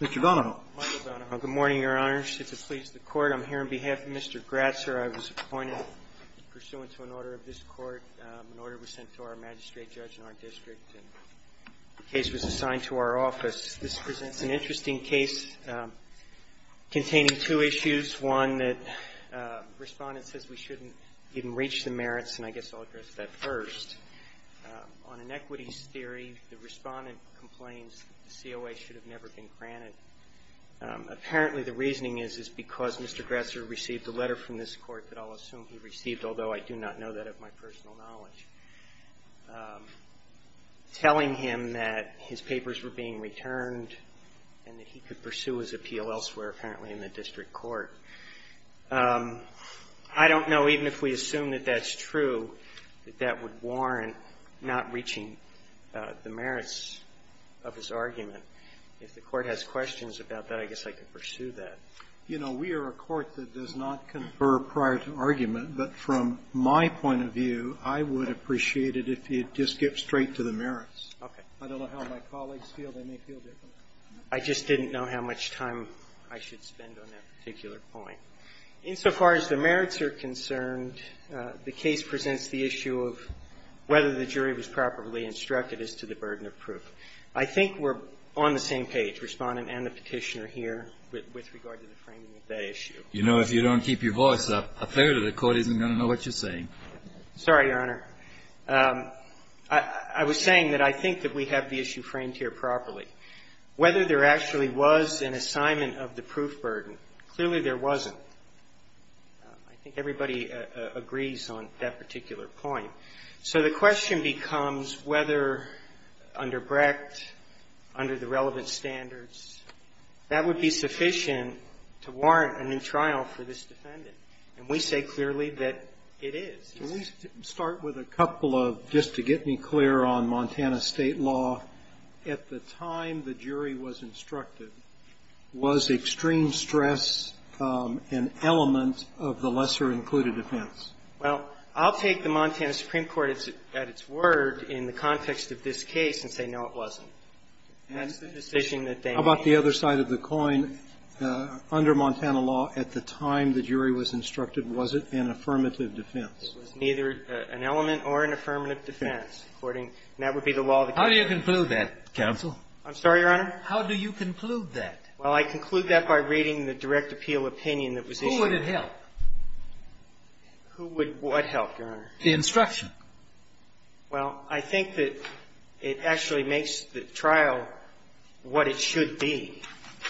Mr. Donahoe. Michael Donahoe. Good morning, Your Honor. It's a pleasure to court. I'm here on behalf of Mr. Gratzer. I was appointed pursuant to an order of this court. An order was sent to our magistrate judge in our district, and the case was assigned to our office. This presents an interesting case containing two issues. One, the respondent says we shouldn't even reach the merits, and I guess I'll address that first. On inequities theory, the respondent complains that the COA should have never been granted. Apparently the reasoning is it's because Mr. Gratzer received a letter from this court that I'll assume he received, although I do not know that of my personal knowledge, telling him that his papers were being returned and that he could pursue his appeal elsewhere, apparently in the district court. I don't know, even if we assume that that's true, that that would warrant not reaching the merits of his argument. If the court has questions about that, I guess I could pursue that. You know, we are a court that does not confer prior to argument, but from my point of view, I would appreciate it if you'd just get straight to the merits. Okay. I don't know how my colleagues feel. They may feel differently. I just didn't know how much time I should spend on that particular point. Insofar as the merits are concerned, the case presents the issue of whether the jury was properly instructed as to the burden of proof. I think we're on the same page, Respondent and the Petitioner here, with regard to the framing of that issue. You know, if you don't keep your voice up, a third of the court isn't going to know what you're saying. Sorry, Your Honor. I was saying that I think that we have the issue framed here properly. Whether there actually was an assignment of the proof burden, clearly there wasn't. I think everybody agrees on that particular point. So the question becomes whether under Brecht, under the relevant standards, that would be sufficient to warrant a new trial for this defendant. And we say clearly that it is. Let me start with a couple of, just to get me clear on Montana State law. At the time the jury was instructed, was extreme stress an element of the lesser-included defense? Well, I'll take the Montana Supreme Court at its word in the context of this case and say, no, it wasn't. And that's the decision that they made. How about the other side of the coin? Under Montana law, at the time the jury was instructed, was it an affirmative defense? It was neither an element or an affirmative defense, according to the law of the case. How do you conclude that, counsel? I'm sorry, Your Honor? How do you conclude that? Well, I conclude that by reading the direct appeal opinion that was issued. Who would it help? Who would what help, Your Honor? The instruction. Well, I think that it actually makes the trial what it should be.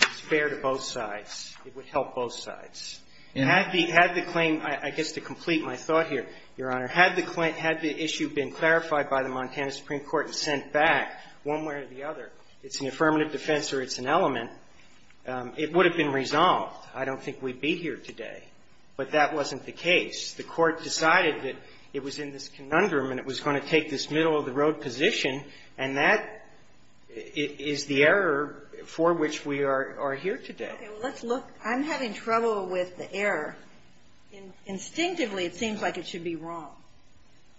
It's fair to both sides. It would help both sides. Had the claim, I guess to complete my thought here, Your Honor, had the issue been clarified by the Montana Supreme Court and sent back one way or the other, it's an affirmative defense or it's an element, it would have been resolved. I don't think we'd be here today. But that wasn't the case. The Court decided that it was in this conundrum and it was going to take this middle-of-the-road position, and that is the error for which we are here today. Okay. Well, let's look. I'm having trouble with the error. Instinctively, it seems like it should be wrong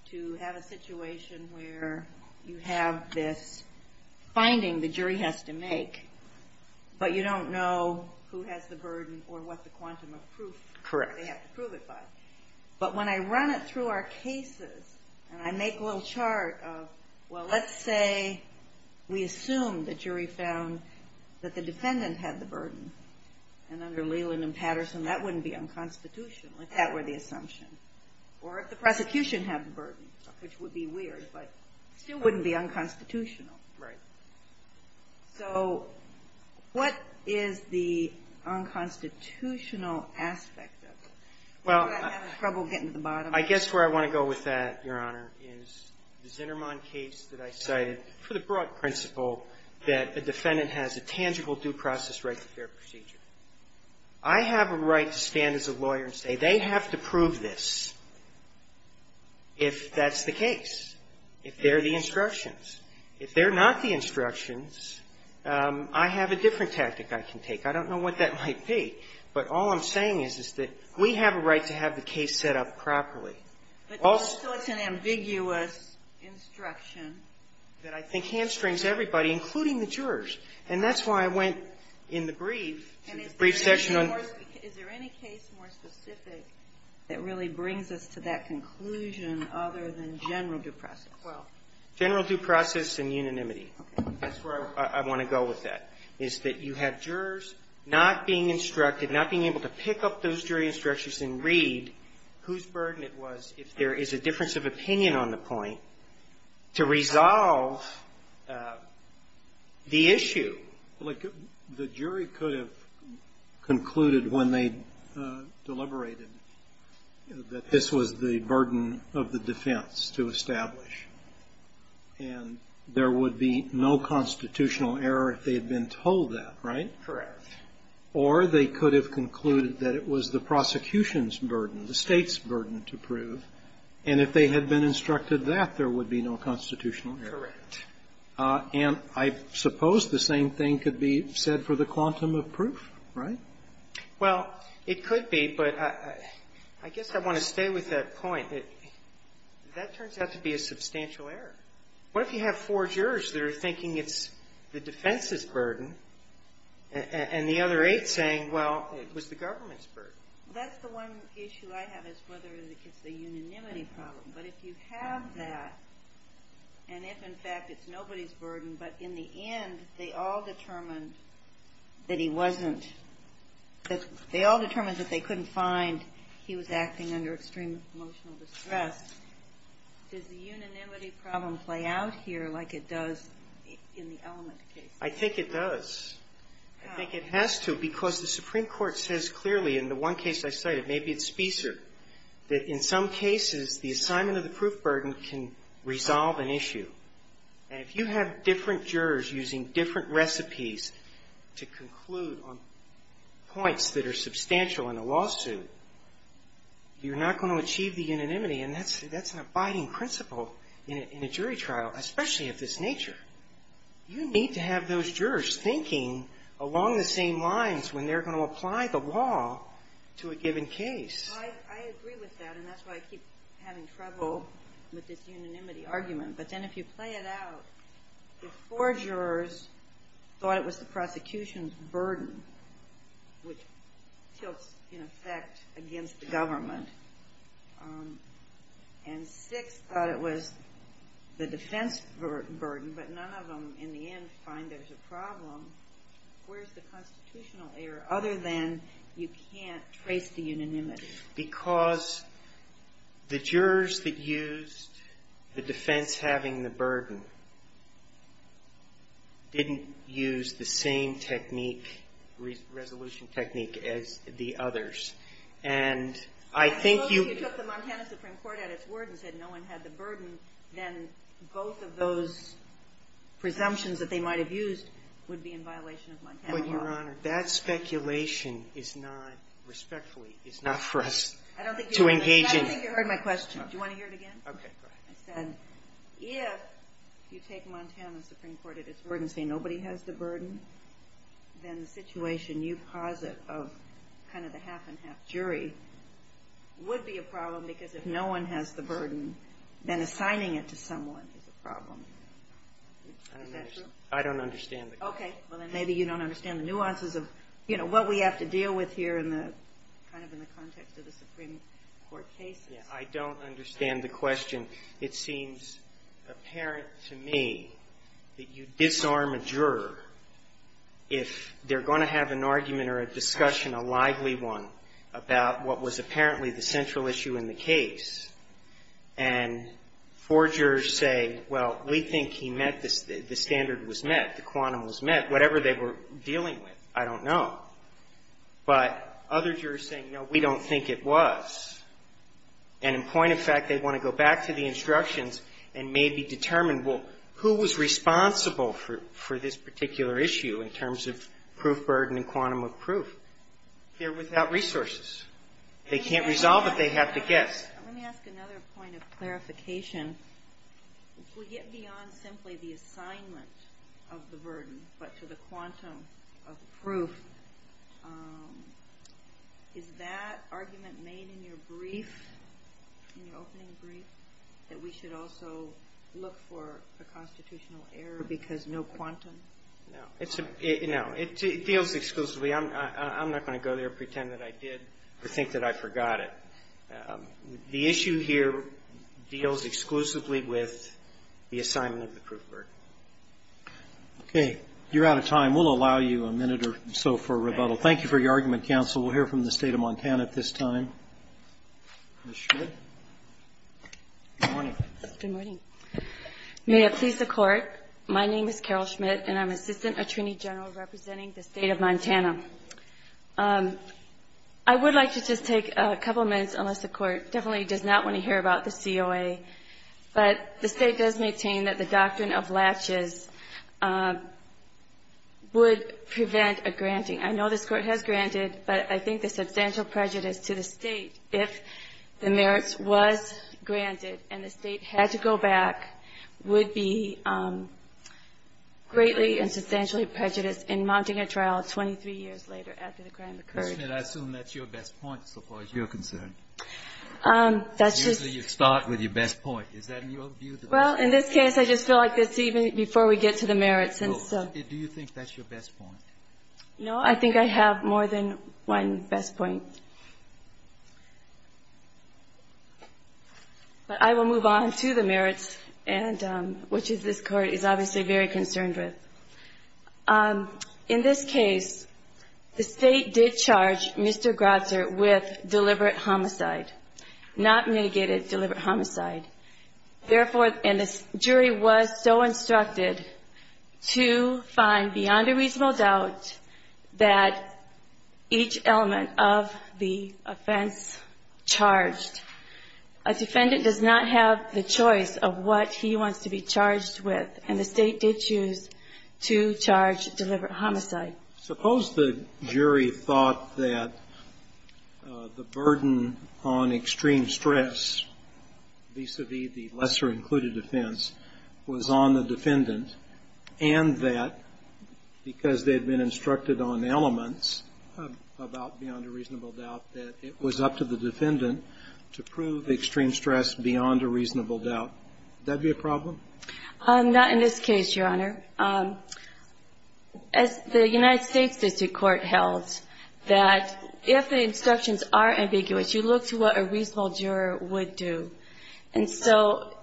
to have a situation where you have this finding the jury has to make, but you don't know who has the burden or what the quantum of proof they have to prove it by. Correct. But when I run it through our cases and I make a little chart of, well, let's say we found that the defendant had the burden, and under Leland and Patterson, that wouldn't be unconstitutional if that were the assumption, or if the prosecution had the burden, which would be weird, but still wouldn't be unconstitutional. Right. So what is the unconstitutional aspect of it? Well, I'm having trouble getting to the bottom. I guess where I want to go with that, Your Honor, is the Zinnerman case that I cited for the broad principle that a defendant has a tangible due process right to fair procedure. I have a right to stand as a lawyer and say they have to prove this if that's the case, if they're the instructions. If they're not the instructions, I have a different tactic I can take. I don't know what that might be, but all I'm saying is that we have a right to have the case set up properly. But still it's an ambiguous instruction. That I think hamstrings everybody, including the jurors. And that's why I went in the brief to the brief section on the case. And is there any case more specific that really brings us to that conclusion other than general due process? Well, general due process and unanimity. Okay. That's where I want to go with that, is that you have jurors not being instructed, not being able to pick up those jury instructions and read whose burden it was, if there is a difference of opinion on the point, to resolve the issue. Look, the jury could have concluded when they deliberated that this was the burden of the defense to establish. And there would be no constitutional error if they had been told that, right? Correct. Or they could have concluded that it was the prosecution's burden, the State's burden to prove. And if they had been instructed that, there would be no constitutional error. Correct. And I suppose the same thing could be said for the quantum of proof, right? Well, it could be, but I guess I want to stay with that point. That turns out to be a substantial error. What if you have four jurors that are thinking it's the defense's burden, and the other eight saying, well, it was the government's burden? That's the one issue I have, is whether it's a unanimity problem. But if you have that, and if, in fact, it's nobody's burden, but in the end, they all determined that he wasn't, that they all determined that they couldn't find he was acting under extreme emotional distress, does the unanimity problem play out here like it does in the element case? I think it does. I think it has to, because the Supreme Court says clearly in the one case I cited, maybe it's Spicer, that in some cases, the assignment of the proof burden can resolve an issue. And if you have different jurors using different recipes to conclude on points that are substantial in a lawsuit, you're not going to achieve the unanimity, and that's an abiding principle in a jury trial, especially of this nature. You need to have those jurors thinking along the same lines when they're going to apply the law to a given case. I agree with that, and that's why I keep having trouble with this unanimity argument. But then if you play it out, if four jurors thought it was the prosecution's burden, but none of them in the end find there's a problem, where's the constitutional error, other than you can't trace the unanimity? Because the jurors that used the defense having the burden didn't use the same technique, resolution technique as the others. And I think you If you took the Montana Supreme Court at its word and said no one had the burden, then both of those presumptions that they might have used would be in violation of Montana law. But, Your Honor, that speculation is not, respectfully, is not for us to engage in. I don't think you heard my question. Do you want to hear it again? Okay. Go ahead. I said if you take Montana Supreme Court at its word and say nobody has the burden, then the situation you posit of kind of the half-and-half jury would be a problem because if no one has the burden, then assigning it to someone is a problem. Is that true? I don't understand the question. Okay. Well, then maybe you don't understand the nuances of, you know, what we have to deal with here in the, kind of in the context of the Supreme Court cases. I don't understand the question. And it seems apparent to me that you disarm a juror if they're going to have an argument or a discussion, a lively one, about what was apparently the central issue in the case, and four jurors say, well, we think he met the standard was met, the quantum was met, whatever they were dealing with, I don't know. But other jurors say, no, we don't think it was. And in point of fact, they want to go back to the instructions and maybe determine, well, who was responsible for this particular issue in terms of proof burden and quantum of proof? They're without resources. They can't resolve it. They have to guess. Let me ask another point of clarification. If we get beyond simply the assignment of the burden but to the quantum of proof, is that argument made in your brief, in your opening brief, that we should also look for a constitutional error because no quantum? No. It's a, no. It deals exclusively. I'm not going to go there and pretend that I did or think that I forgot it. The issue here deals exclusively with the assignment of the proof burden. Okay. You're out of time. We'll allow you a minute or so for rebuttal. Thank you for your argument, counsel. We'll hear from the State of Montana at this time. Ms. Schmidt? Good morning. Good morning. May it please the Court, my name is Carol Schmidt, and I'm Assistant Attorney General representing the State of Montana. I would like to just take a couple minutes, unless the Court definitely does not want to hear about the COA. But the State does maintain that the doctrine of latches would prevent a granting. I know this Court has granted, but I think the substantial prejudice to the State if the merits was granted and the State had to go back would be greatly and substantially prejudiced in mounting a trial 23 years later after the crime occurred. Ms. Schmidt, I assume that's your best point so far as you're concerned. That's just the way it is. Best point. Is that your view? Well, in this case, I just feel like it's even before we get to the merits. Do you think that's your best point? No, I think I have more than one best point. But I will move on to the merits, which this Court is obviously very concerned with. In this case, the State did charge Mr. Grazer with deliberate homicide, not mitigated deliberate homicide. Therefore, and the jury was so instructed to find beyond a reasonable doubt that each element of the offense charged. A defendant does not have the choice of what he wants to be charged with. And the State did choose to charge deliberate homicide. Suppose the jury thought that the burden on extreme stress vis-a-vis the lesser included offense was on the defendant and that because they had been instructed on elements about beyond a reasonable doubt that it was up to the defendant to prove extreme stress beyond a reasonable doubt. Would that be a problem? Not in this case, Your Honor. As the United States district court held, that if the instructions are ambiguous, you look to what a reasonable juror would do. And so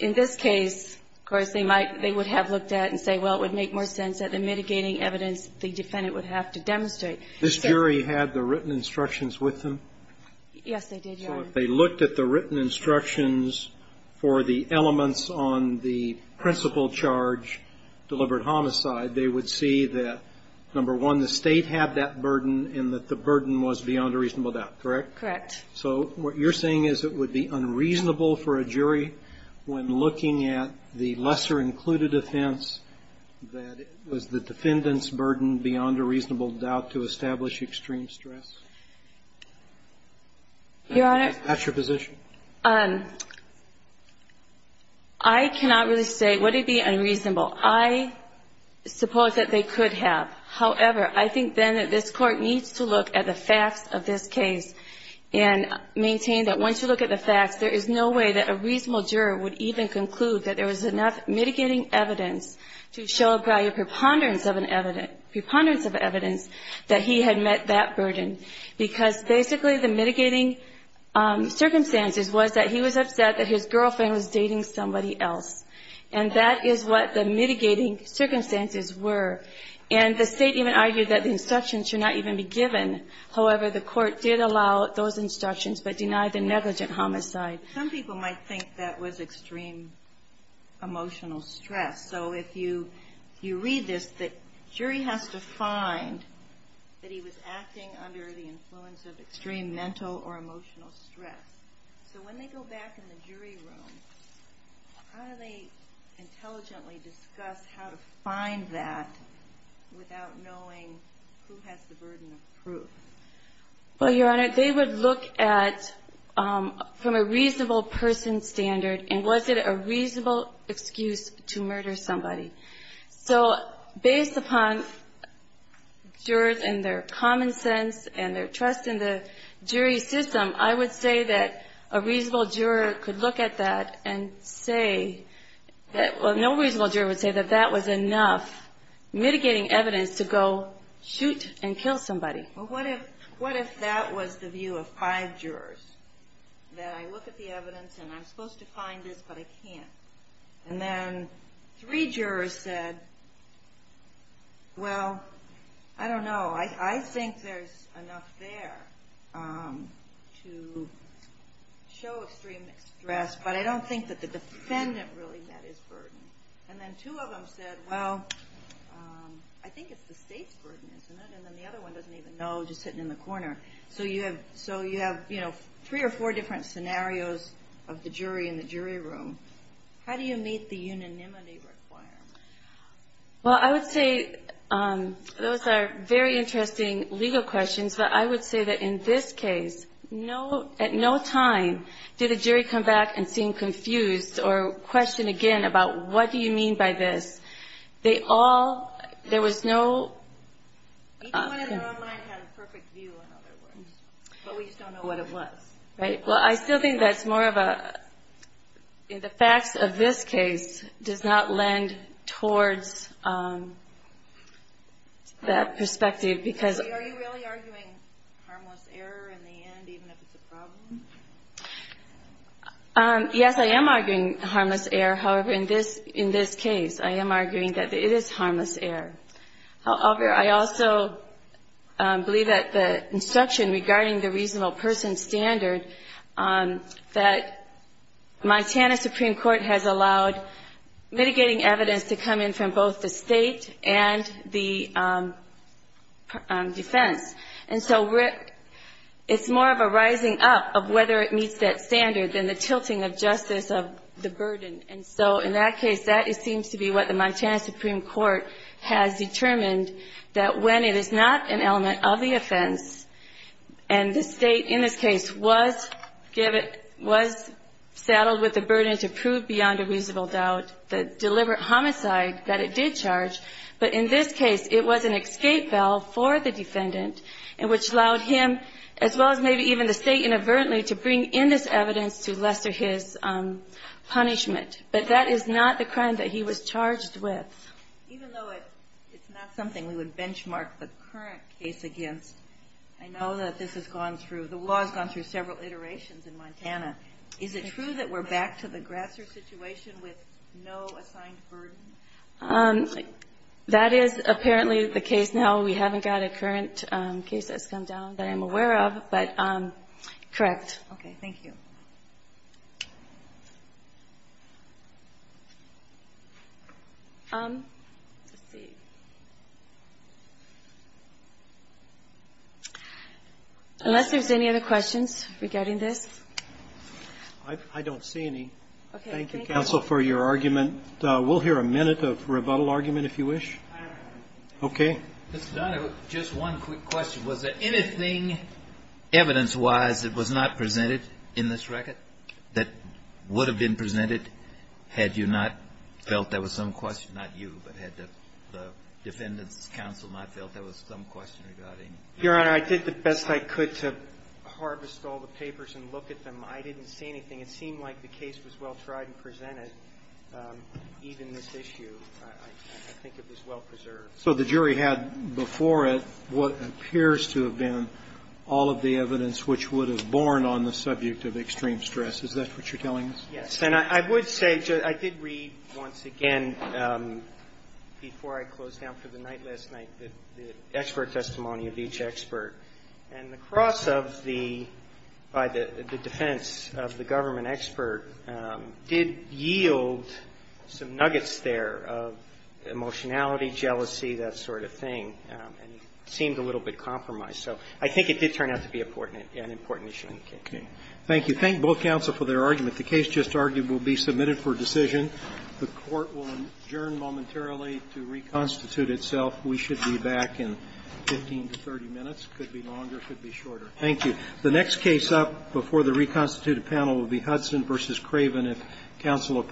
in this case, of course, they might they would have looked at it and say, well, it would make more sense that the mitigating evidence the defendant would have to demonstrate. This jury had the written instructions with them? Yes, they did, Your Honor. So if they looked at the written instructions for the elements on the principal charge, deliberate homicide, they would see that, number one, the State had that burden and that the burden was beyond a reasonable doubt, correct? Correct. So what you're saying is it would be unreasonable for a jury when looking at the lesser included offense that it was the defendant's burden beyond a reasonable doubt to establish extreme stress? Your Honor. That's your position? I cannot really say would it be unreasonable. I suppose that they could have. However, I think then that this Court needs to look at the facts of this case and maintain that once you look at the facts, there is no way that a reasonable juror would even conclude that there was enough mitigating evidence to show by a preponderance of evidence that he had met that burden. Because basically the mitigating circumstances was that he was upset that his girlfriend was dating somebody else. And that is what the mitigating circumstances were. And the State even argued that the instructions should not even be given. However, the Court did allow those instructions but denied the negligent homicide. Some people might think that was extreme emotional stress. So if you read this, the jury has to find that he was acting under the influence of extreme mental or emotional stress. So when they go back in the jury room, how do they intelligently discuss how to find that without knowing who has the burden of proof? Well, Your Honor, they would look at from a reasonable person standard and was it a reasonable excuse to murder somebody? So based upon jurors and their common sense and their trust in the jury system, I would say that a reasonable juror could look at that and say that no reasonable juror would say that that was enough mitigating evidence to go shoot and kill somebody. Well, what if that was the view of five jurors, that I look at the evidence and I'm supposed to find this but I can't? And then three jurors said, well, I don't know. I think there's enough there to show extreme stress, but I don't think that the defendant really met his burden. And then two of them said, well, I think it's the state's burden, isn't it? And then the other one doesn't even know, just sitting in the corner. So you have, you know, three or four different scenarios of the jury in the jury room. How do you meet the unanimity requirement? Well, I would say those are very interesting legal questions, but I would say that in this case, at no time did a jury come back and seem confused or question again about what do you mean by this. They all, there was no... But we just don't know what it was. Well, I still think that's more of a, in the facts of this case, does not lend towards that perspective because... Are you really arguing harmless error in the end, even if it's a problem? Yes, I am arguing harmless error. However, in this case, I am arguing that it is harmless error. However, I also believe that the instruction regarding the reasonable person standard, that Montana Supreme Court has allowed mitigating evidence to come in from both the state and the defense. And so it's more of a rising up of whether it meets that standard than the tilting of justice of the burden and whether it meets that standard. So in that case, that seems to be what the Montana Supreme Court has determined, that when it is not an element of the offense and the state in this case was saddled with the burden to prove beyond a reasonable doubt the deliberate homicide that it did charge, but in this case, it was an escape valve for the defendant, which allowed him, as well as maybe even the state in this case, to prove beyond a reasonable doubt the deliberate homicide that it did. So that is not the crime that he was charged with. Even though it's not something we would benchmark the current case against, I know that this has gone through, the law has gone through several iterations in Montana. Is it true that we're back to the Grasser situation with no assigned burden? Let's see. Unless there's any other questions regarding this. I don't see any. Thank you, counsel, for your argument. We'll hear a minute of rebuttal argument, if you wish. Okay. Just one quick question. Was there anything, evidence-wise, that was not presented in this record that would have been presented had you not felt there was some question not you, but had the defendant's counsel not felt there was some question regarding Your Honor, I did the best I could to harvest all the papers and look at them. I didn't see anything. It seemed like the case was well-tried and presented, even this issue. I think it was well-preserved. So the jury had before it what appears to have been all of the evidence which would have borne on the subject of extreme stress. Is that what you're telling us? Yes. And I would say, I did read, once again, before I closed down for the night last night, the expert testimony of each expert. And the cross of the by the defense of the government expert did yield some nuggets there of emotionality, jealousy, that sort of thing. And it seemed a little bit compromised. So I think it did turn out to be an important issue. Thank you. Thank you. Thank both counsel for their argument. The case just argued will be submitted for decision. The Court will adjourn momentarily to reconstitute itself. We should be back in 15 to 30 minutes. Could be longer, could be shorter. Thank you. The next case up before the reconstituted panel will be Hudson v. Craven.